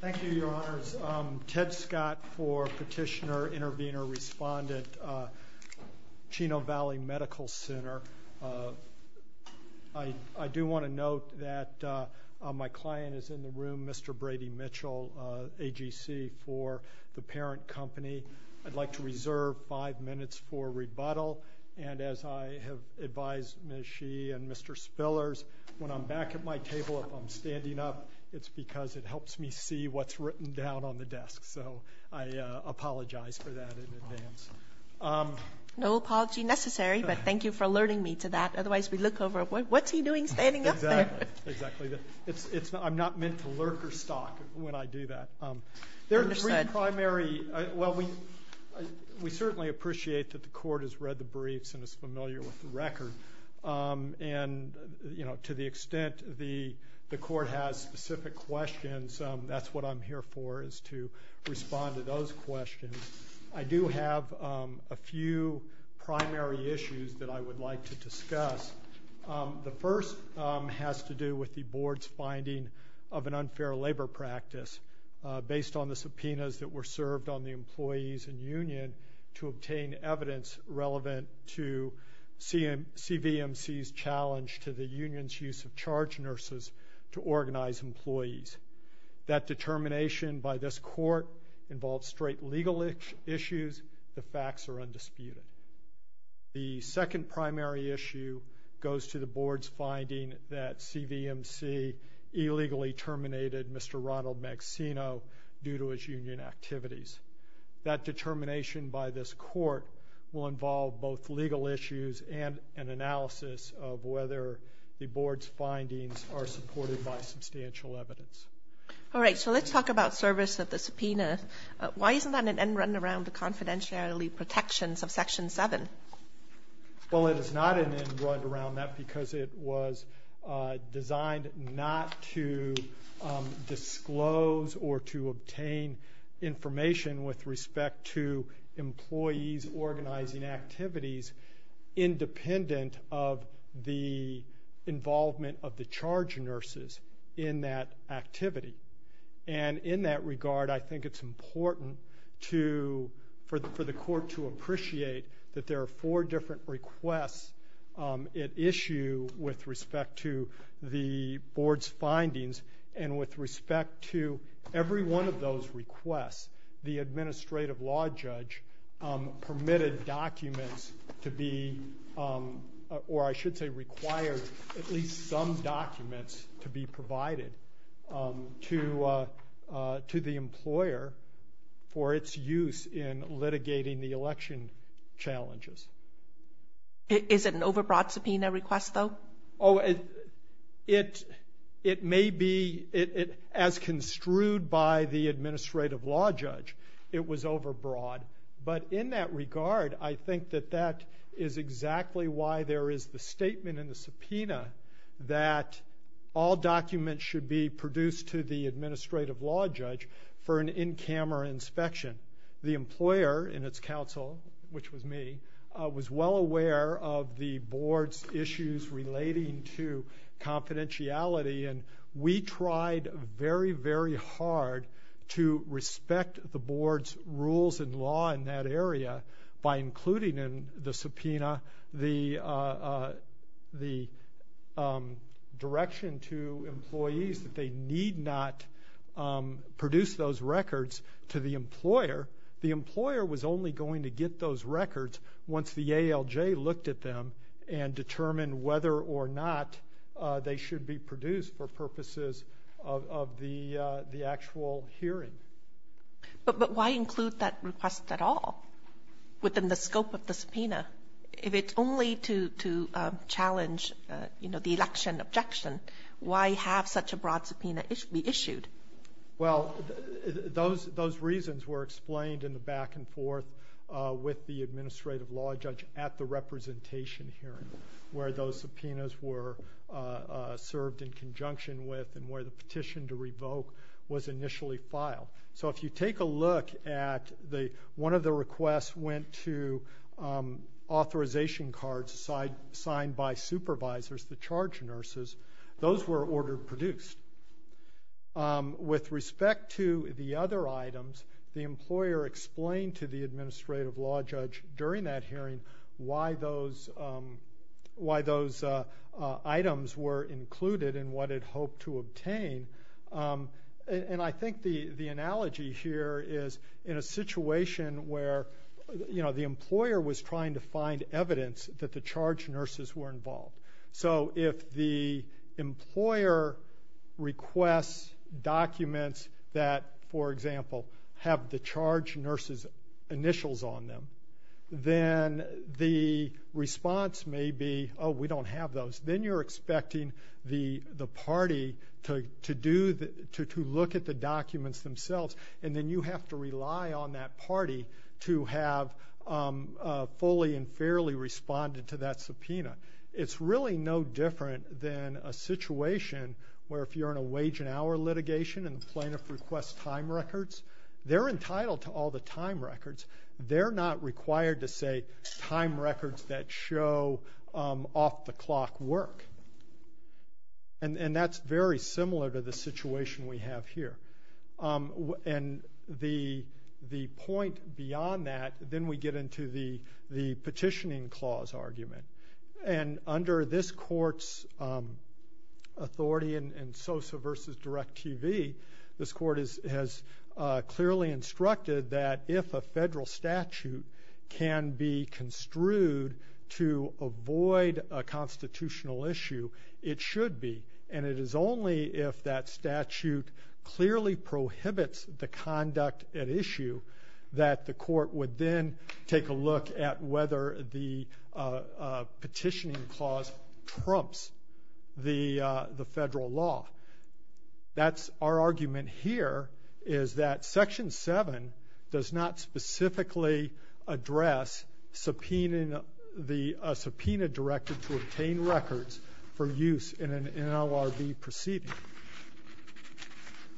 Thank you, Your Honors. I'm Ted Scott for Petitioner, Intervenor, Respondent, Chino Valley Medical Center. I do want to note that my client is in the room, Mr. Brady Mitchell, AGC, for the parent company. I'd like to reserve five minutes for rebuttal, and as I have advised Ms. Sheehy and Mr. Spillers, when I'm back at my table, if I'm standing up, it's because it helps me see what's written down on the desk. So I apologize for that in advance. No apology necessary, but thank you for alerting me to that. Otherwise, we look over, what's he doing standing up there? Exactly. I'm not meant to lurk or stalk when I do that. Understood. There are three primary – well, we certainly appreciate that the Court has specific questions. That's what I'm here for, is to respond to those questions. I do have a few primary issues that I would like to discuss. The first has to do with the Board's finding of an unfair labor practice based on the subpoenas that were served on the employees and union to obtain evidence relevant to CVMC's challenge to the union's use of charge nurses to organize employees. That determination by this Court involves straight legal issues. The facts are undisputed. The second primary issue goes to the Board's finding that CVMC illegally terminated Mr. Ronald Magsino due to his union activities. That determination by the Board's findings are supported by substantial evidence. All right, so let's talk about service of the subpoena. Why isn't that an end run around the confidentiality protections of Section 7? Well, it is not an end run around that because it was designed not to disclose or to obtain information with respect to employees organizing activities independent of the involvement of the charge nurses in that activity. And in that regard, I think it's important for the Court to appreciate that there are four different requests at issue with respect to the Board's findings. And with respect to every one of those requests, the Administrative Law Judge permitted documents to be, or I should say required at least some documents to be provided to the employer for its use in litigating the election challenges. Is it an overbroad subpoena request, though? Oh, it may be. As construed by the Administrative Law Judge, it was exactly why there is the statement in the subpoena that all documents should be produced to the Administrative Law Judge for an in-camera inspection. The employer in its counsel, which was me, was well aware of the Board's issues relating to confidentiality, and we tried very, very hard to respect the Board's rules and law in that area by including in the subpoena the direction to employees that they need not produce those records to the employer. The employer was only going to get those records once the ALJ looked at them and determined whether or not they should be produced for purposes of the actual hearing. But why include that request at all within the scope of the subpoena? If it's only to challenge the election objection, why have such a broad subpoena be issued? Well, those reasons were explained in the back and forth with the Administrative Law Judge at the representation hearing, where those subpoenas were served in look at one of the requests went to authorization cards signed by supervisors, the charge nurses, those were ordered produced. With respect to the other items, the employer explained to the Administrative Law Judge during that hearing why those items were included and what it hoped to obtain. And I think the analogy here is in a situation where the employer was trying to find evidence that the charge nurses were involved. So if the employer requests documents that, for instance, the response may be, oh, we don't have those. Then you're expecting the party to look at the documents themselves, and then you have to rely on that party to have fully and fairly responded to that subpoena. It's really no different than a situation where if you're in a wage and hour litigation and the plaintiff requests time records, they're entitled to all the time records. They're not required to say time records that show off the clock work. And that's very similar to the situation we have here. And the point beyond that, then we get into the petitioning clause argument. And under this court's authority in SOSA versus DIRECTV, this court has clearly instructed that if a federal statute can be construed to avoid a constitutional issue, it should be. And it is only if that statute clearly prohibits the conduct at issue that the court would then take a decision as to whether the petitioning clause trumps the federal law. That's our argument here is that Section 7 does not specifically address subpoena directed to obtain records for use in an NLRB proceeding.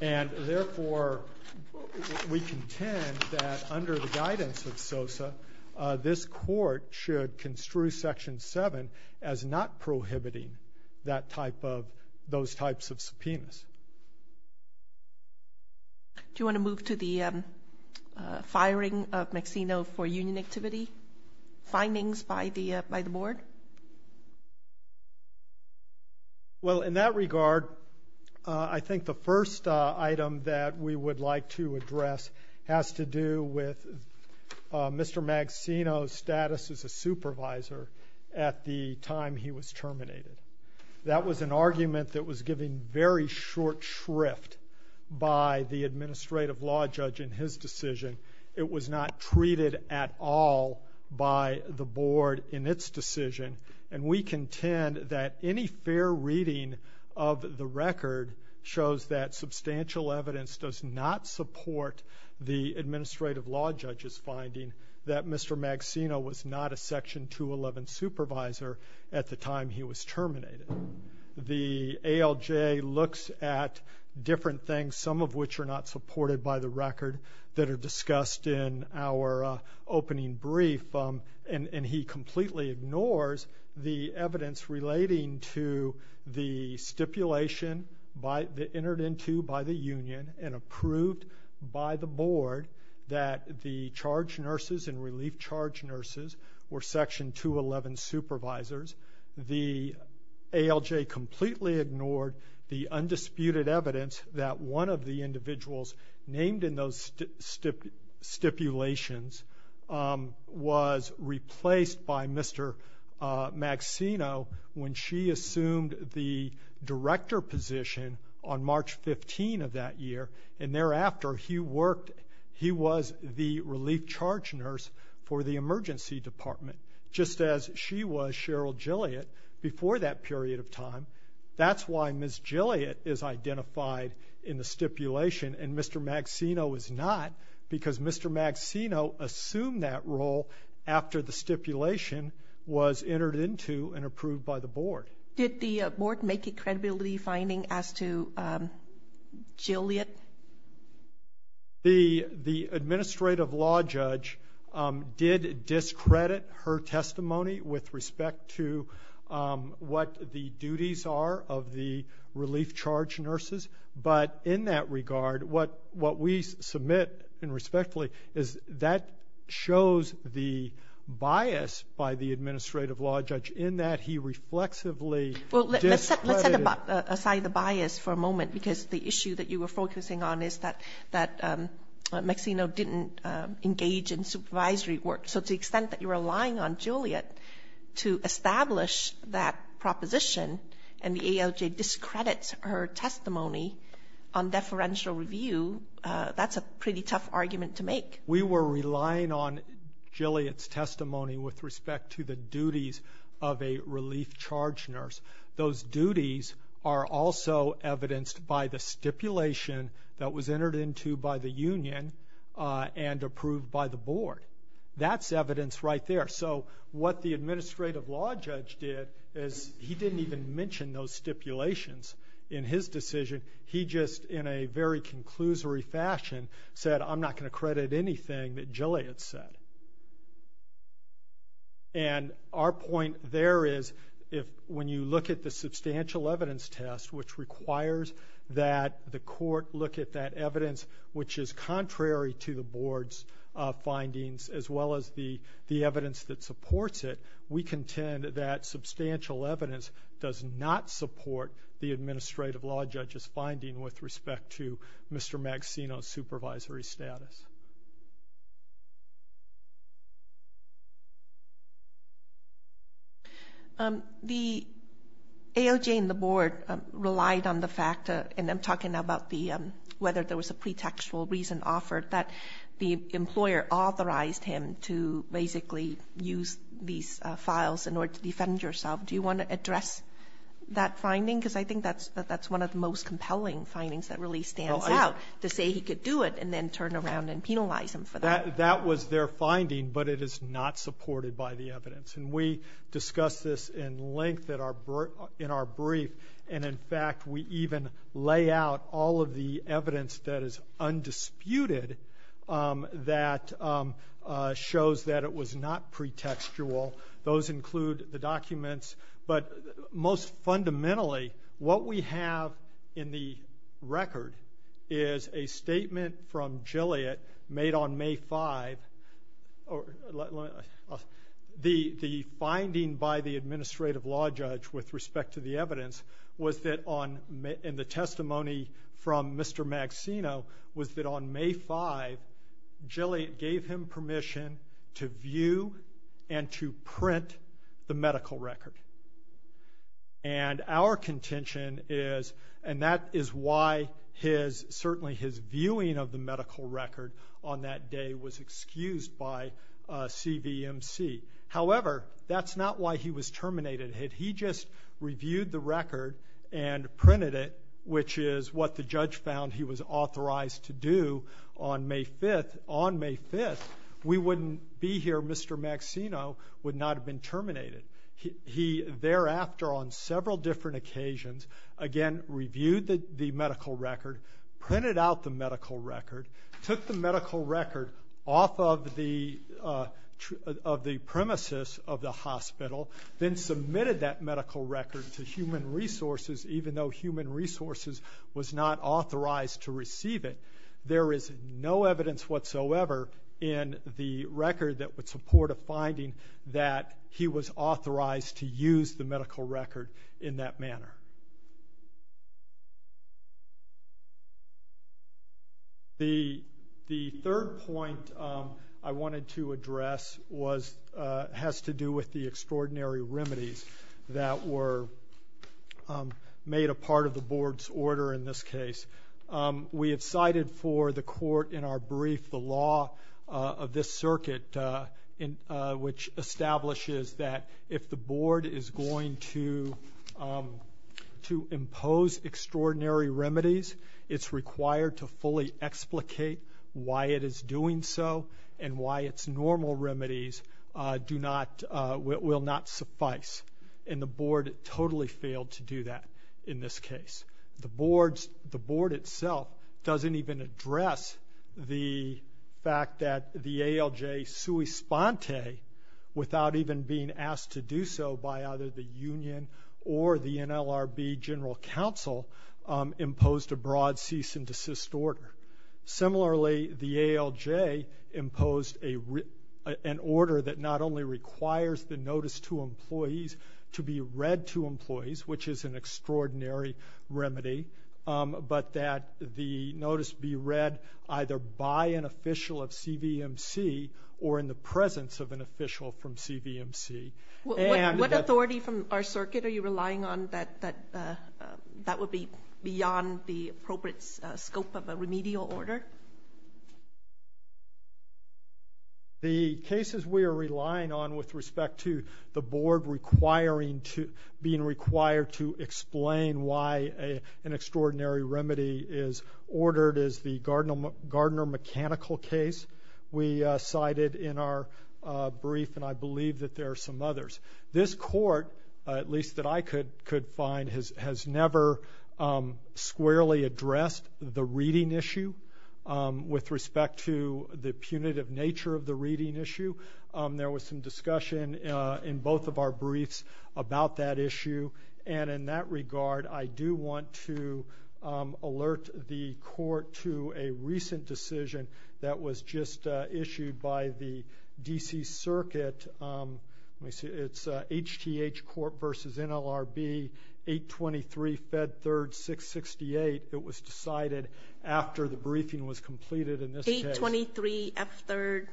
And therefore, we contend that under the guidance of SOSA, this court should construe Section 7 as not prohibiting those types of subpoenas. Do you want to move to the firing of Maxino for union activity findings by the board? Well, in that regard, I think the first item that we would like to address has to do with Mr. Maxino's status as a supervisor at the time he was terminated. That was an argument that was given very short shrift by the administrative law judge in his decision. It was not treated at all by the board in its decision. And we contend that any fair reading of the record shows that substantial evidence does not support the administrative law judge's finding that Mr. Maxino was not a Section 211 supervisor at the time he was terminated. The ALJ looks at different things, some of which are not supported by the record, that are discussed in our opening brief. And he completely ignores the evidence relating to the stipulation entered into by the union and approved by the board that the charge nurses and relief charge nurses were Section 211 supervisors. The ALJ completely ignored the undisputed evidence that one of the individuals named in those stipulations was replaced by Mr. Maxino when she assumed the director position on March 15 of that year. And thereafter, he was the relief charge nurse for the emergency department, just as she was Cheryl Gilliott before that period of time. That's why Ms. Maxino is not, because Mr. Maxino assumed that role after the stipulation was entered into and approved by the board. Did the board make a credibility finding as to Gilliott? The administrative law judge did discredit her testimony with respect to what the duties are of the relief charge nurses. But in that regard, what we submit, and respectfully, is that shows the bias by the administrative law judge in that he reflexively Well, let's set aside the bias for a moment, because the issue that you were focusing on is that Maxino didn't engage in supervisory work. So to the extent that you're relying on and the ALJ discredits her testimony on deferential review, that's a pretty tough argument to make. We were relying on Gilliott's testimony with respect to the duties of a relief charge nurse. Those duties are also evidenced by the stipulation that was entered into by the union and approved by the board. That's evidence right there. So what the administrative law judge did is he didn't even mention those stipulations in his decision. He just, in a very conclusory fashion, said, I'm not going to credit anything that Gilliott said. And our point there is, when you look at the substantial evidence test, which requires that the court look at that evidence which is contrary to the board's findings, as well as the evidence that supports it, we contend that substantial evidence does not support the administrative law judge's finding with respect to Mr. Maxino's supervisory status. The ALJ and the board relied on the fact, and I'm talking about whether there was a pretextual reason offered, that the employer authorized him to basically use these files in order to defend yourself. Do you want to address that finding? Because I think that's one of the most compelling findings that really stands out, to say he could do it and then turn around and penalize him for that. That was their finding, but it is not supported by the evidence. And we discussed this in length in our brief. And, in fact, we even lay out all of the evidence that is undisputed that shows that it was not pretextual. Those include the documents. But most fundamentally, what we have in the record is a statement from Gilliott made on May 5. The finding by the administrative law judge with respect to the evidence, and the testimony from Mr. Maxino, was that on May 5, Gilliott gave him permission to view and to print the medical record. And our contention is, and that is why certainly his viewing of the medical record on that day was excused by CVMC. However, that's not why he was terminated. Had he just reviewed the record and printed it, which is what the judge found he was authorized to do on May 5, we wouldn't be here. Mr. Maxino would not have been terminated. He, thereafter, on several different occasions, again, reviewed the medical record, printed out the medical record, took the medical record off of the premises of the hospital, then submitted that medical record to Human Resources, even though Human Resources was not authorized to receive it. There is no evidence whatsoever in the record that would support a finding that he was authorized to use the medical record in that manner. The third point I wanted to address has to do with the extraordinary remedies that were made a part of the board's order in this case. We have cited for the court in our brief the law of this circuit, which establishes that if the board is going to impose extraordinary remedies, it's required to fully explicate why it is doing so and why its normal remedies will not suffice. And the board totally failed to do that in this case. The board itself doesn't even address the fact that the ALJ, sui sponte, without even being asked to do so by either the union or the NLRB general counsel, imposed a broad cease and desist order. Similarly, the ALJ imposed an order that not only requires the notice to employees to be read to employees, which is an extraordinary remedy, but that the notice be read either by an official of CVMC or in the presence of an official from CVMC. What authority from our circuit are you relying on that would be beyond the appropriate scope of a remedial order? The cases we are relying on with respect to the board being required to explain why an extraordinary remedy is ordered is the Gardner Mechanical case. We cited in our brief, and I believe that there are some others. This court, at least that I could find, has never squarely addressed the reading issue with respect to the punitive nature of the reading issue. There was some discussion in both of our briefs about that issue. In that regard, I do want to alert the court to a recent decision that was just issued by the D.C. Circuit. It's HTH Court v. NLRB, 823 Fed 3rd, 668. It was decided after the briefing was completed in this case. 823 F 3rd,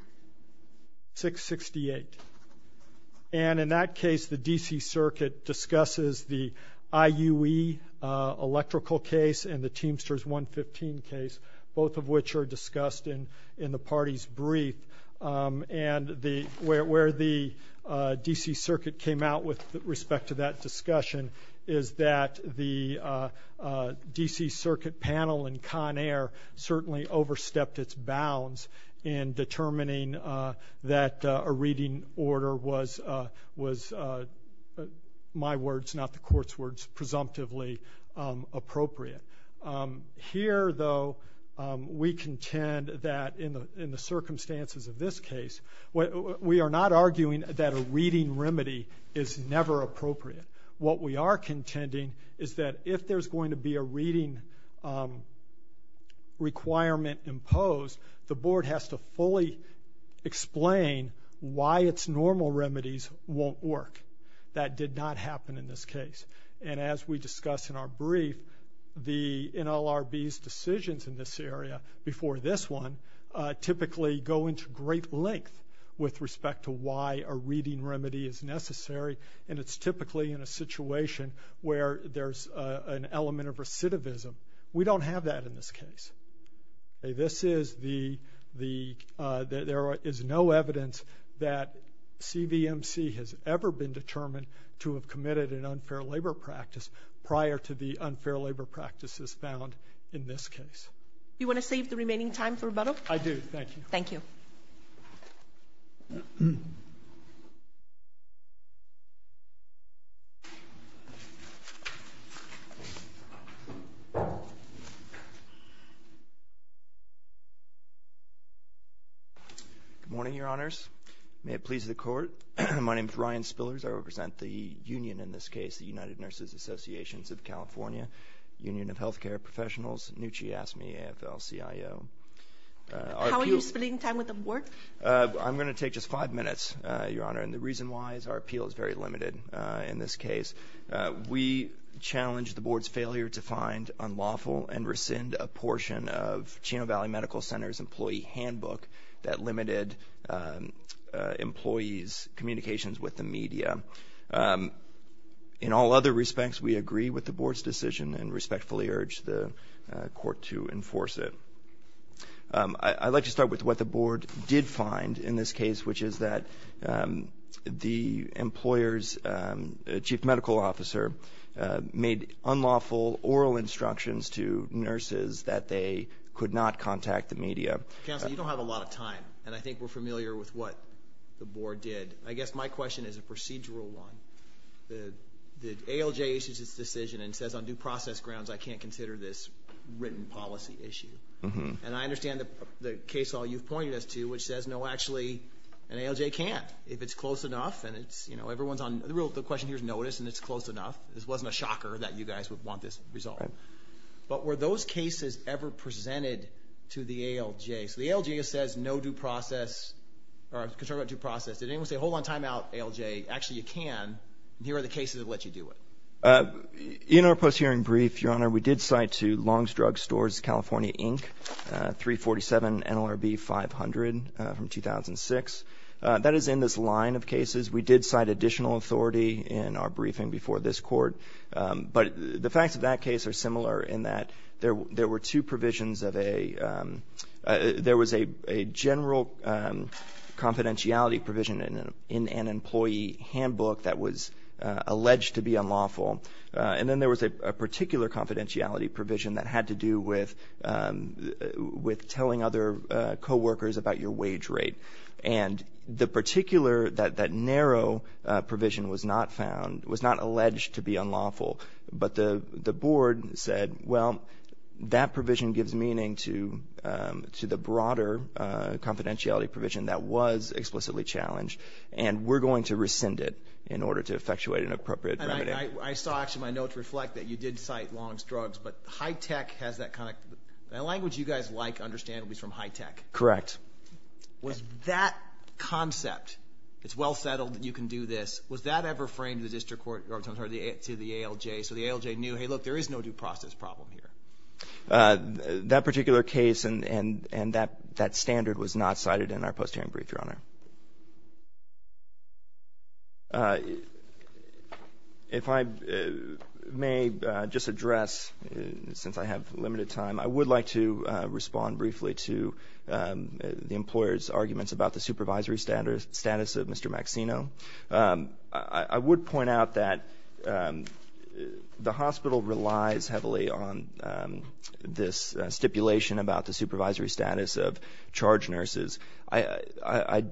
668. In that case, the D.C. Circuit discusses the IUE electrical case and the Teamsters 115 case, both of which are discussed in the party's brief. Where the D.C. Circuit came out with respect to that discussion is that the D.C. Circuit panel in Conair certainly overstepped its bounds in determining that a reading order was, in my words, not the court's words, presumptively appropriate. Here, though, we contend that in the circumstances of this case, we are not arguing that a reading remedy is never appropriate. What we are contending is that if there's going to be a reading requirement imposed, the board has to fully explain why its normal remedies won't work. That did not happen in this case. And as we discussed in our brief, the NLRB's decisions in this area before this one typically go into great length with respect to why a reading remedy is necessary. And it's typically in a situation where there's an element of recidivism. We don't have that in this case. There is no evidence that CBMC has ever been determined to have committed an unfair labor practice prior to the unfair labor practices found in this case. Do you want to save the remaining time for rebuttal? I do. Thank you. Thank you. Good morning, Your Honors. May it please the court, my name is Ryan Spillers. I represent the union in this case, the United Nurses Associations of California, Union of Healthcare Professionals, NUCHI, AFL-CIO. How are you spending time with the board? I'm going to take just five minutes, Your Honor. And the reason why is our appeal is very limited in this case. We challenge the board's failure to find unlawful and rescind a portion of Chino Valley Medical Center's employee handbook that limited employees' communications with the media. In all other respects, we agree with the board's decision and respectfully urge the court to enforce it. I'd like to start with what the board did find in this case, which is that the employer's chief medical officer made unlawful oral instructions to nurses that they could not contact the media. Counsel, you don't have a lot of time, and I think we're familiar with what the board did. I guess my question is a procedural one. The ALJ issues its decision and says, on due process grounds, I can't consider this written policy issue. And I understand the case law you've pointed us to, which says, no, actually, an ALJ can't if it's close enough. The question here is notice and it's close enough. This wasn't a shocker that you guys would want this resolved. But were those cases ever presented to the ALJ? So the ALJ says no due process or concern about due process. Did anyone say, hold on, time out, ALJ? Actually, you can. Here are the cases that let you do it. In our post-hearing brief, Your Honor, we did cite to Long's Drug Stores, California, Inc., 347 NLRB 500 from 2006. That is in this line of cases. We did cite additional authority in our briefing before this court. But the facts of that case are similar in that there were two provisions of a — there was a general confidentiality provision in an employee handbook that was alleged to be unlawful. And then there was a particular confidentiality provision that had to do with telling other coworkers about your wage rate. And the particular — that narrow provision was not found — was not alleged to be unlawful. But the board said, well, that provision gives meaning to the broader confidentiality provision that was explicitly challenged. And we're going to rescind it in order to effectuate an appropriate remedy. I saw actually my notes reflect that you did cite Long's Drugs. But high tech has that kind of — the language you guys like, understandably, is from high tech. Correct. Was that concept — it's well settled, you can do this — was that ever framed in the district court or to the ALJ? So the ALJ knew, hey, look, there is no due process problem here. That particular case and that standard was not cited in our post-hearing brief, Your Honor. If I may just address, since I have limited time, I would like to respond briefly to the employer's arguments about the supervisory status of Mr. Maxino. I would point out that the hospital relies heavily on this stipulation about the supervisory status of charge nurses. That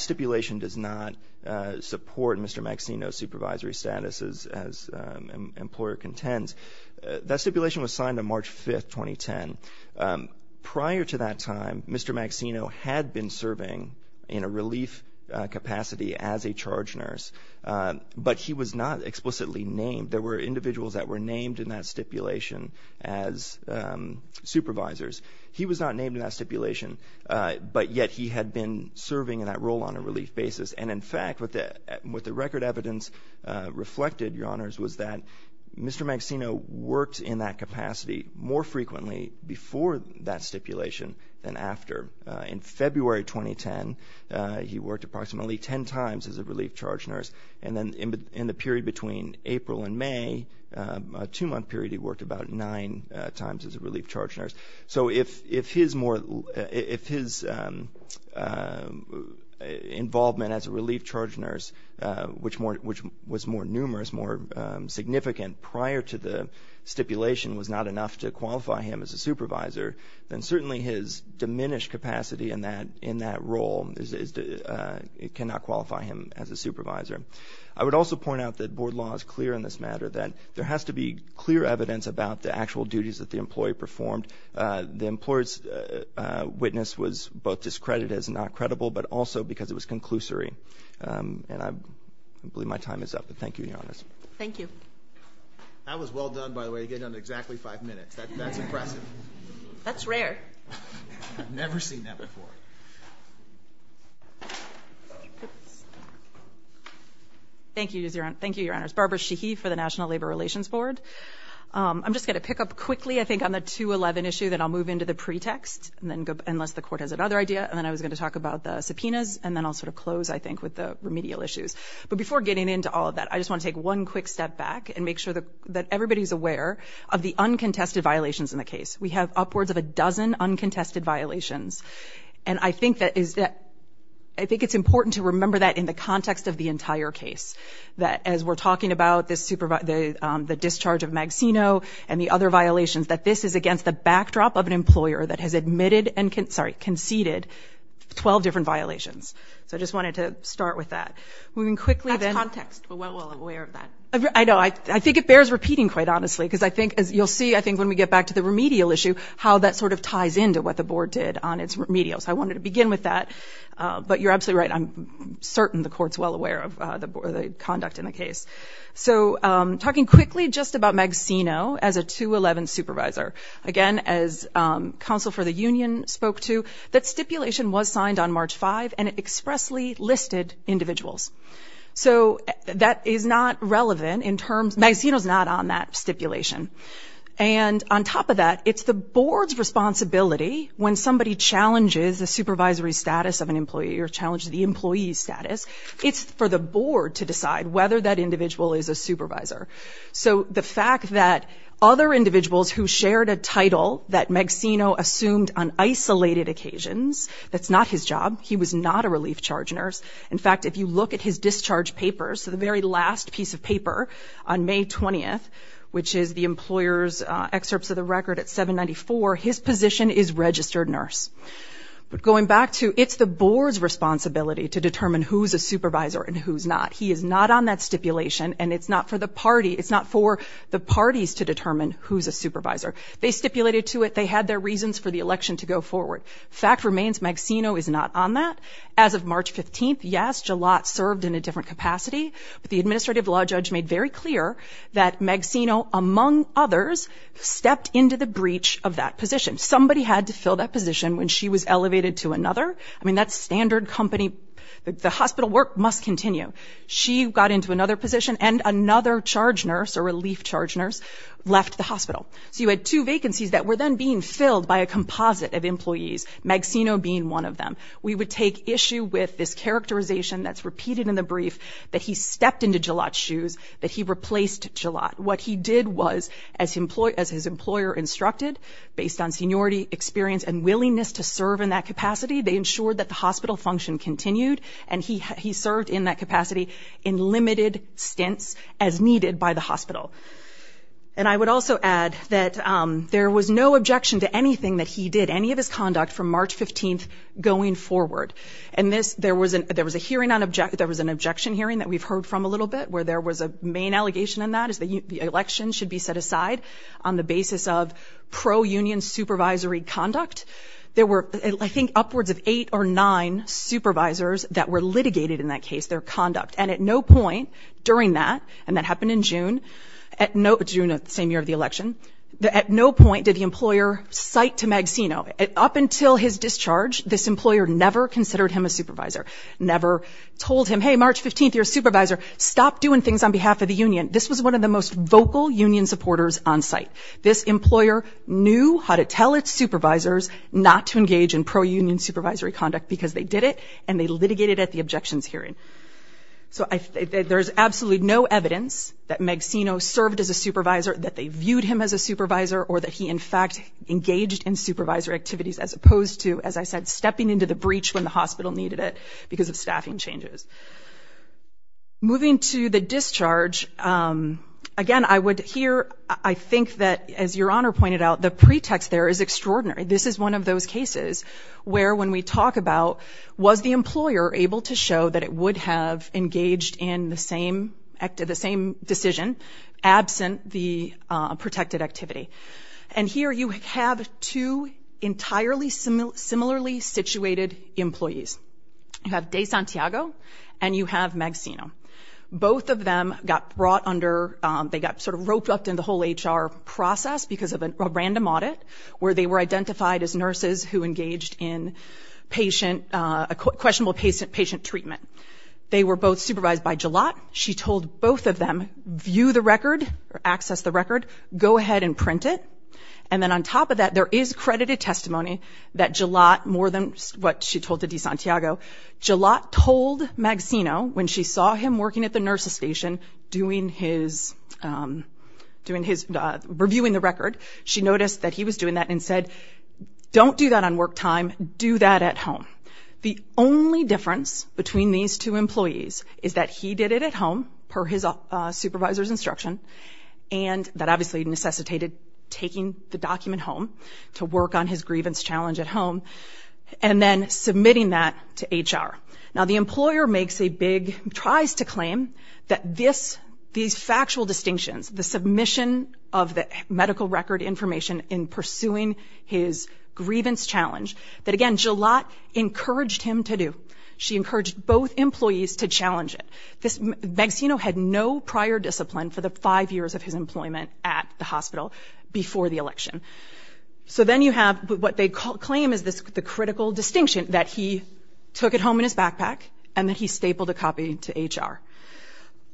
stipulation does not support Mr. Maxino's supervisory status as an employer contends. That stipulation was signed on March 5th, 2010. Prior to that time, Mr. Maxino had been serving in a relief capacity as a charge nurse, but he was not explicitly named. There were individuals that were named in that stipulation as supervisors. He was not named in that stipulation, but yet he had been serving in that role on a relief basis. And, in fact, what the record evidence reflected, Your Honors, was that Mr. Maxino worked in that capacity more frequently before that stipulation than after. In February 2010, he worked approximately 10 times as a relief charge nurse. And then in the period between April and May, a two-month period, he worked about nine times as a relief charge nurse. So if his involvement as a relief charge nurse, which was more numerous, more significant, prior to the stipulation was not enough to qualify him as a supervisor, then certainly his diminished capacity in that role cannot qualify him as a supervisor. I would also point out that board law is clear on this matter, that there has to be clear evidence about the actual duties that the employee performed. The employer's witness was both discredited as not credible, but also because it was conclusory. And I believe my time is up, but thank you, Your Honors. Thank you. That was well done, by the way. You got it done in exactly five minutes. That's impressive. That's rare. I've never seen that before. Thank you. Thank you, Your Honors. Barbara Sheehy for the National Labor Relations Board. I'm just going to pick up quickly, I think, on the 211 issue, then I'll move into the pretext, unless the court has another idea. And then I was going to talk about the subpoenas, and then I'll sort of close, I think, with the remedial issues. But before getting into all of that, I just want to take one quick step back and make sure that everybody is aware of the uncontested violations in the case. We have upwards of a dozen uncontested violations. And I think it's important to remember that in the context of the entire case, that as we're talking about the discharge of Magsino and the other violations, that this is against the backdrop of an employer that has admitted and conceded 12 different violations. So I just wanted to start with that. That's context. We're aware of that. I know. I think it bears repeating, quite honestly, because I think, as you'll see, I think when we get back to the remedial issue, how that sort of ties into what the board did on its remedial. So I wanted to begin with that. But you're absolutely right. I'm certain the court's well aware of the conduct in the case. So talking quickly just about Magsino as a 211 supervisor. Again, as counsel for the union spoke to, that stipulation was signed on March 5, and it expressly listed individuals. So that is not relevant in terms – Magsino's not on that stipulation. And on top of that, it's the board's responsibility when somebody challenges the supervisory status of an employee or challenges the employee's status, it's for the board to decide whether that individual is a supervisor. So the fact that other individuals who shared a title that Magsino assumed on isolated occasions, that's not his job. He was not a relief charge nurse. In fact, if you look at his discharge papers, the very last piece of paper on May 20th, which is the employer's excerpts of the record at 794, his position is registered nurse. But going back to it's the board's responsibility to determine who's a supervisor and who's not. He is not on that stipulation, and it's not for the party – it's not for the parties to determine who's a supervisor. They stipulated to it. They had their reasons for the election to go forward. The fact remains Magsino is not on that. As of March 15th, yes, Gillotte served in a different capacity. But the administrative law judge made very clear that Magsino, among others, stepped into the breach of that position. Somebody had to fill that position when she was elevated to another. I mean, that's standard company – the hospital work must continue. She got into another position, and another charge nurse or relief charge nurse left the hospital. So you had two vacancies that were then being filled by a composite of employees, Magsino being one of them. We would take issue with this characterization that's repeated in the brief that he stepped into Gillotte's shoes, that he replaced Gillotte. What he did was, as his employer instructed, based on seniority, experience, and willingness to serve in that capacity, they ensured that the hospital function continued, and he served in that capacity in limited stints as needed by the hospital. And I would also add that there was no objection to anything that he did, any of his conduct, from March 15th going forward. And there was an objection hearing that we've heard from a little bit, where there was a main allegation in that, is that the election should be set aside on the basis of pro-union supervisory conduct. There were, I think, upwards of eight or nine supervisors that were litigated in that case, their conduct. And at no point during that, and that happened in June, June of the same year of the election, at no point did the employer cite to Magsino, up until his discharge, this employer never considered him a supervisor, never told him, hey, March 15th, you're a supervisor, stop doing things on behalf of the union. This was one of the most vocal union supporters on site. This employer knew how to tell its supervisors not to engage in pro-union supervisory conduct because they did it, and they litigated at the objections hearing. So there's absolutely no evidence that Magsino served as a supervisor, that they viewed him as a supervisor, or that he, in fact, engaged in supervisor activities, as opposed to, as I said, stepping into the breach when the hospital needed it because of staffing changes. Moving to the discharge, again, I would hear, I think that, as Your Honor pointed out, the pretext there is extraordinary. This is one of those cases where, when we talk about, was the employer able to show that it would have engaged in the same decision, absent the protected activity? And here you have two entirely similarly situated employees. You have De Santiago and you have Magsino. Both of them got brought under, they got sort of roped up in the whole HR process because of a random audit, where they were identified as nurses who engaged in patient, questionable patient treatment. They were both supervised by Gillott. She told both of them, view the record, or access the record, go ahead and print it. And then on top of that, there is credited testimony that Gillott, more than what she told to De Santiago, Gillott told Magsino, when she saw him working at the nurse's station, doing his, reviewing the record, she noticed that he was doing that and said, don't do that on work time, do that at home. The only difference between these two employees is that he did it at home, per his supervisor's instruction, and that obviously necessitated taking the document home to work on his grievance challenge at home, and then submitting that to HR. Now, the employer makes a big, tries to claim that this, these factual distinctions, the submission of the medical record information in pursuing his grievance challenge, that again, Gillott encouraged him to do. She encouraged both employees to challenge it. Magsino had no prior discipline for the five years of his employment at the hospital before the election. So then you have what they claim is the critical distinction, that he took it home in his backpack, and that he stapled a copy to HR.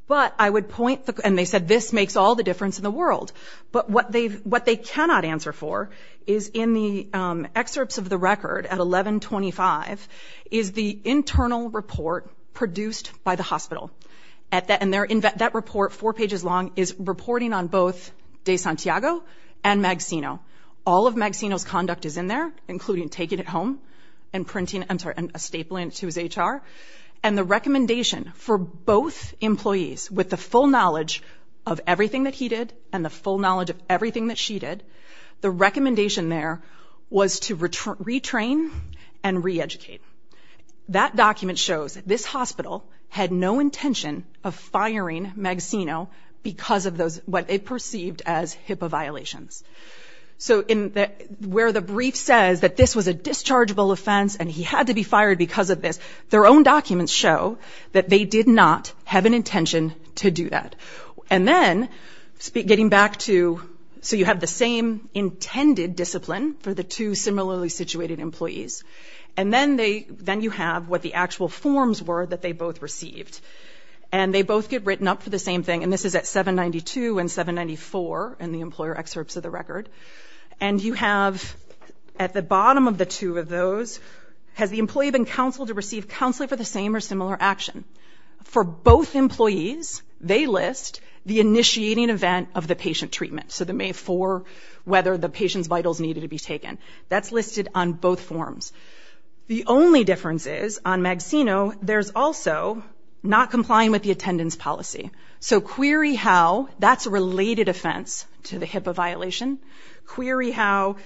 But I would point, and they said this makes all the difference in the world, but what they cannot answer for is in the excerpts of the record at 1125, is the internal report produced by the hospital. And that report, four pages long, is reporting on both de Santiago and Magsino. All of Magsino's conduct is in there, including taking it home and printing, I'm sorry, and stapling it to his HR. And the recommendation for both employees, with the full knowledge of everything that he did and the full knowledge of everything that she did, the recommendation there was to retrain and reeducate. That document shows that this hospital had no intention of firing Magsino because of what they perceived as HIPAA violations. So where the brief says that this was a dischargeable offense and he had to be fired because of this, their own documents show that they did not have an intention to do that. And then, getting back to, so you have the same intended discipline for the two similarly situated employees. And then you have what the actual forms were that they both received. And they both get written up for the same thing. And this is at 792 and 794 in the employer excerpts of the record. And you have, at the bottom of the two of those, has the employee been counseled to receive counseling for the same or similar action? For both employees, they list the initiating event of the patient treatment. So the May 4, whether the patient's vitals needed to be taken. That's listed on both forms. The only difference is, on Magsino, there's also not complying with the attendance policy. So query how that's a related offense to the HIPAA violation. Query how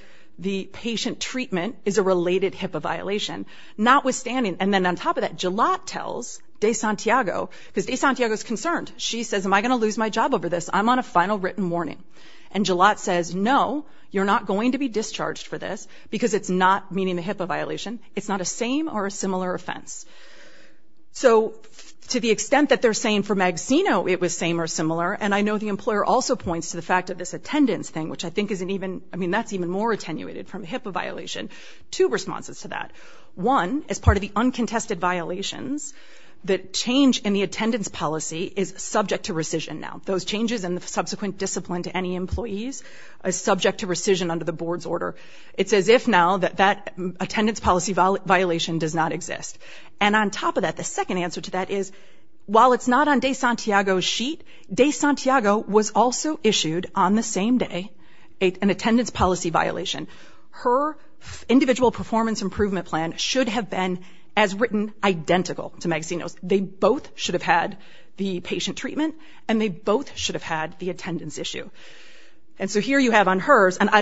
the patient treatment is a related HIPAA violation. Notwithstanding, and then on top of that, Jalot tells De Santiago, because De Santiago's concerned. She says, am I going to lose my job over this? I'm on a final written warning. And Jalot says, no, you're not going to be discharged for this, because it's not meeting the HIPAA violation. It's not a same or a similar offense. So to the extent that they're saying for Magsino it was same or similar, and I know the employer also points to the fact of this attendance thing, which I think is an even, I mean, that's even more attenuated from HIPAA violation. Two responses to that. One, as part of the uncontested violations, the change in the attendance policy is subject to rescission now. Those changes and the subsequent discipline to any employees is subject to rescission under the board's order. It's as if now that attendance policy violation does not exist. And on top of that, the second answer to that is, while it's not on De Santiago's sheet, De Santiago was also issued on the same day an attendance policy violation. Her individual performance improvement plan should have been as written identical to Magsino's. They both should have had the patient treatment, and they both should have had the attendance issue. And so here you have on hers, and I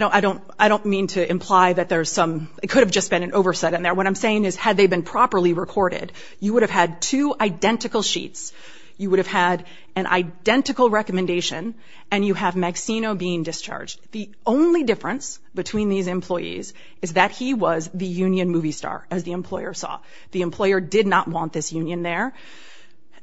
don't mean to imply that there's some, it could have just been an overset in there. What I'm saying is, had they been properly recorded, you would have had two identical sheets. You would have had an identical recommendation, and you have Magsino being discharged. The only difference between these employees is that he was the union movie star, as the employer saw. The employer did not want this union there,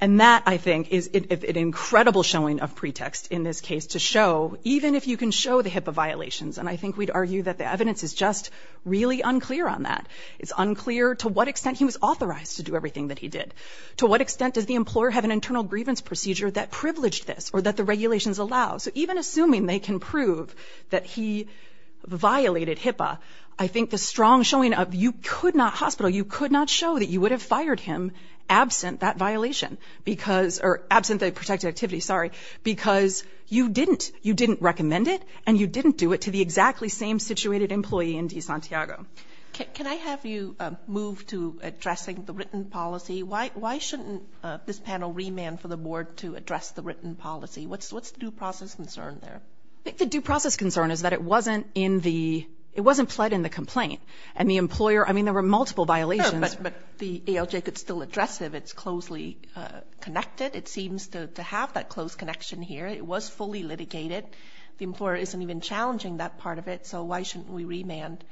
and that, I think, is an incredible showing of pretext in this case to show, even if you can show the HIPAA violations, and I think we'd argue that the evidence is just really unclear on that. It's unclear to what extent he was authorized to do everything that he did. To what extent does the employer have an internal grievance procedure that privileged this, or that the regulations allow? So even assuming they can prove that he violated HIPAA, I think the strong showing of, you could not hospital, you could not show that you would have fired him absent that violation, or absent the protected activity, sorry, because you didn't recommend it, and you didn't do it to the exactly same situated employee in DeSantiago. Can I have you move to addressing the written policy? Why shouldn't this panel remand for the board to address the written policy? What's the due process concern there? I think the due process concern is that it wasn't in the, it wasn't pled in the complaint. And the employer, I mean, there were multiple violations. Sure, but the ALJ could still address it if it's closely connected. It seems to have that close connection here. It was fully litigated. The employer isn't even challenging that part of it, so why shouldn't we remand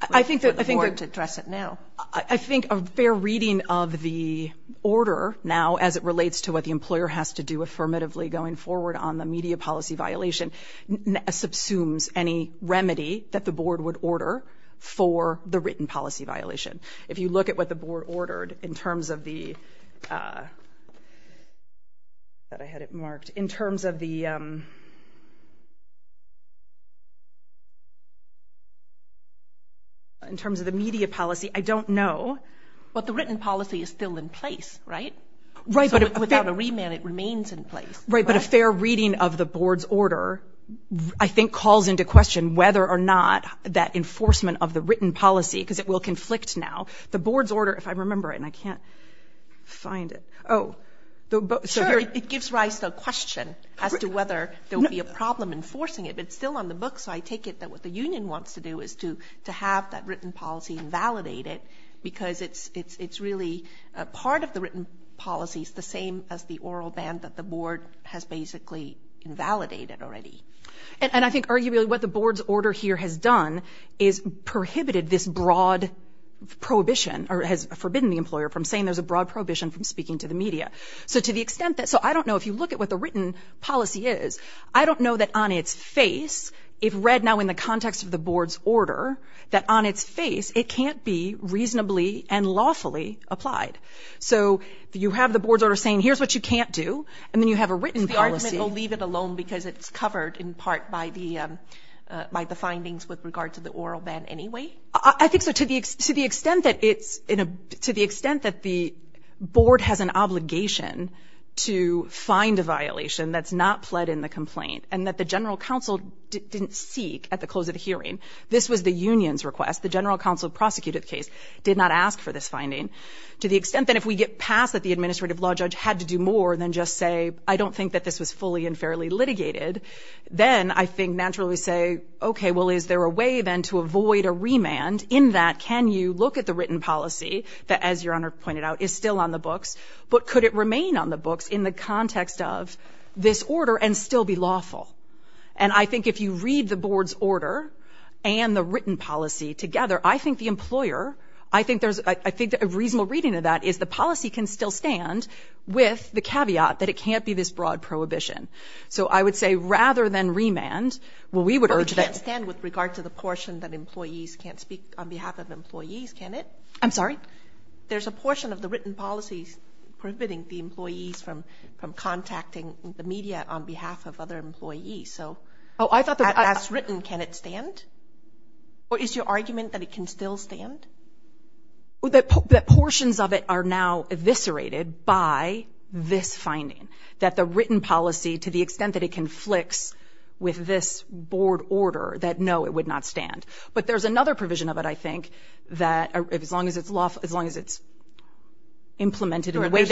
for the board to address it now? I think a fair reading of the order now, as it relates to what the employer has to do affirmatively going forward on the media policy violation, subsumes any remedy that the board would order for the written policy violation. If you look at what the board ordered in terms of the, I thought I had it marked, in terms of the, in terms of the media policy, I don't know. But the written policy is still in place, right? Right, but it, So without a remand, it remains in place. Right, but a fair reading of the board's order I think calls into question whether or not that enforcement of the written policy, because it will conflict now. The board's order, if I remember it, and I can't find it. Oh. Sure, it gives rise to a question as to whether there will be a problem enforcing it. But it's still on the books, so I take it that what the union wants to do is to have that written policy and validate it, because it's really, part of the written policy is the same as the oral ban that the board has basically invalidated already. And I think arguably what the board's order here has done is prohibited this broad prohibition, or has forbidden the employer from saying there's a broad prohibition from speaking to the media. So to the extent that, so I don't know, if you look at what the written policy is, I don't know that on its face, if read now in the context of the board's order, that on its face it can't be reasonably and lawfully applied. So you have the board's order saying here's what you can't do, and then you have a written policy. So the argument will leave it alone because it's covered in part by the findings with regard to the oral ban anyway? I think so. To the extent that it's, to the extent that the board has an obligation to find a violation that's not pled in the complaint and that the general counsel didn't seek at the close of the hearing, The general counsel who prosecuted the case did not ask for this finding. To the extent that if we get past that the administrative law judge had to do more than just say, I don't think that this was fully and fairly litigated, then I think naturally say, okay, well, is there a way then to avoid a remand in that, can you look at the written policy that, as Your Honor pointed out, is still on the books, but could it remain on the books in the context of this order and still be lawful? And I think if you read the board's order and the written policy together, I think the employer, I think a reasonable reading of that is the policy can still stand with the caveat that it can't be this broad prohibition. So I would say rather than remand, well, we would urge that... But it can't stand with regard to the portion that employees can't speak on behalf of employees, can it? I'm sorry? There's a portion of the written policy prohibiting the employees from contacting the media on behalf of other employees, so... Oh, I thought that... As written, can it stand? Or is your argument that it can still stand? That portions of it are now eviscerated by this finding, that the written policy, to the extent that it conflicts with this board order, that no, it would not stand. But there's another provision of it, I think, that as long as it's lawful, as long as it's implemented in the way that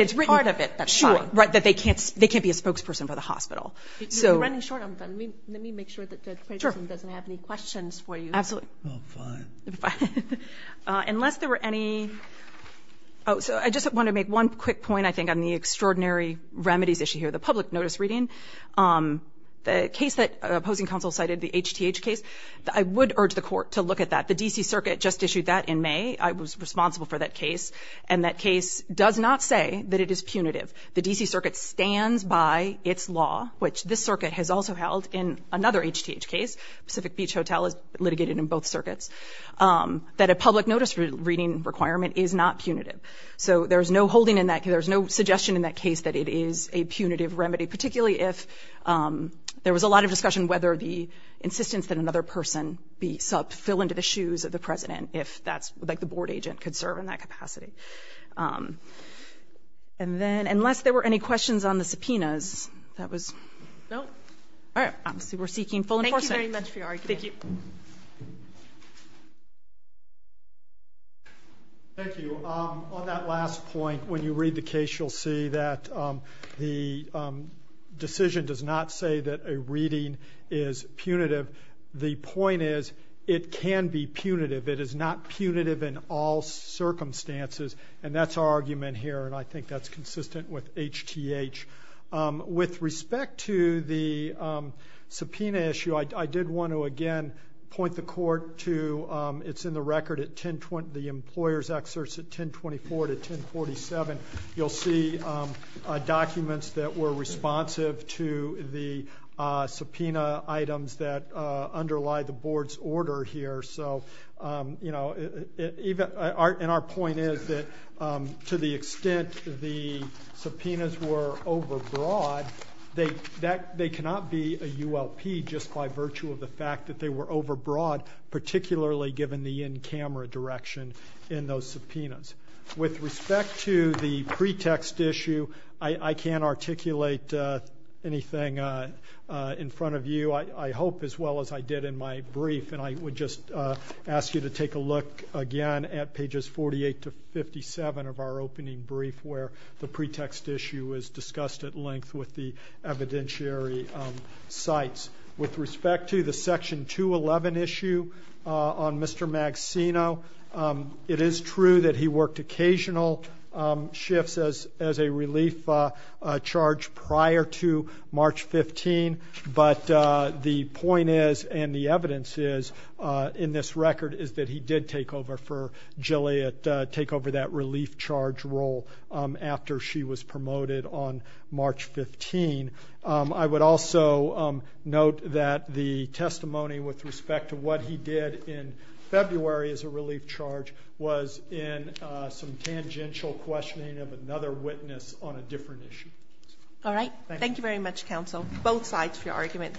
it's written... Part of it, that's fine. Right, that they can't be a spokesperson for the hospital. You're running short on time. Let me make sure that Judge Peterson doesn't have any questions for you. Absolutely. Oh, fine. Fine. Unless there were any... Oh, so I just want to make one quick point, I think, on the extraordinary remedies issue here, the public notice reading. The case that opposing counsel cited, the HTH case, I would urge the court to look at that. The D.C. Circuit just issued that in May. I was responsible for that case. And that case does not say that it is punitive. The D.C. Circuit stands by its law, which this circuit has also held in another HTH case, Pacific Beach Hotel is litigated in both circuits, that a public notice reading requirement is not punitive. So there's no holding in that... There's no suggestion in that case that it is a punitive remedy, particularly if there was a lot of discussion whether the insistence that another person fill into the shoes of the president, if that's... Like, the board agent could serve in that capacity. And then, unless there were any questions on the subpoenas, that was... No? All right. Obviously, we're seeking full enforcement. Thank you very much for your argument. Thank you. Thank you. On that last point, when you read the case, you'll see that the decision does not say that a reading is punitive. The point is, it can be punitive. It is not punitive in all circumstances. And that's our argument here, and I think that's consistent with HTH. With respect to the subpoena issue, I did want to, again, point the court to... It's in the record, the employer's excerpts at 1024 to 1047. You'll see documents that were responsive to the subpoena items that underlie the board's order here. And our point is that, to the extent the subpoenas were overbroad, they cannot be a ULP just by virtue of the fact that they were overbroad, particularly given the in-camera direction in those subpoenas. With respect to the pretext issue, I can't articulate anything in front of you, I hope, as well as I did in my brief. And I would just ask you to take a look again at pages 48 to 57 of our opening brief, where the pretext issue is discussed at length with the evidentiary sites. With respect to the Section 211 issue on Mr. Maxino, it is true that he worked occasional shifts as a relief charge prior to March 15, but the point is, and the evidence is, in this record, is that he did take over for Gilliat, take over that relief charge role after she was promoted on March 15. I would also note that the testimony with respect to what he did in February as a relief charge was in some tangential questioning of another witness on a different issue. All right. Thank you very much, Counsel. Both sides for your argument.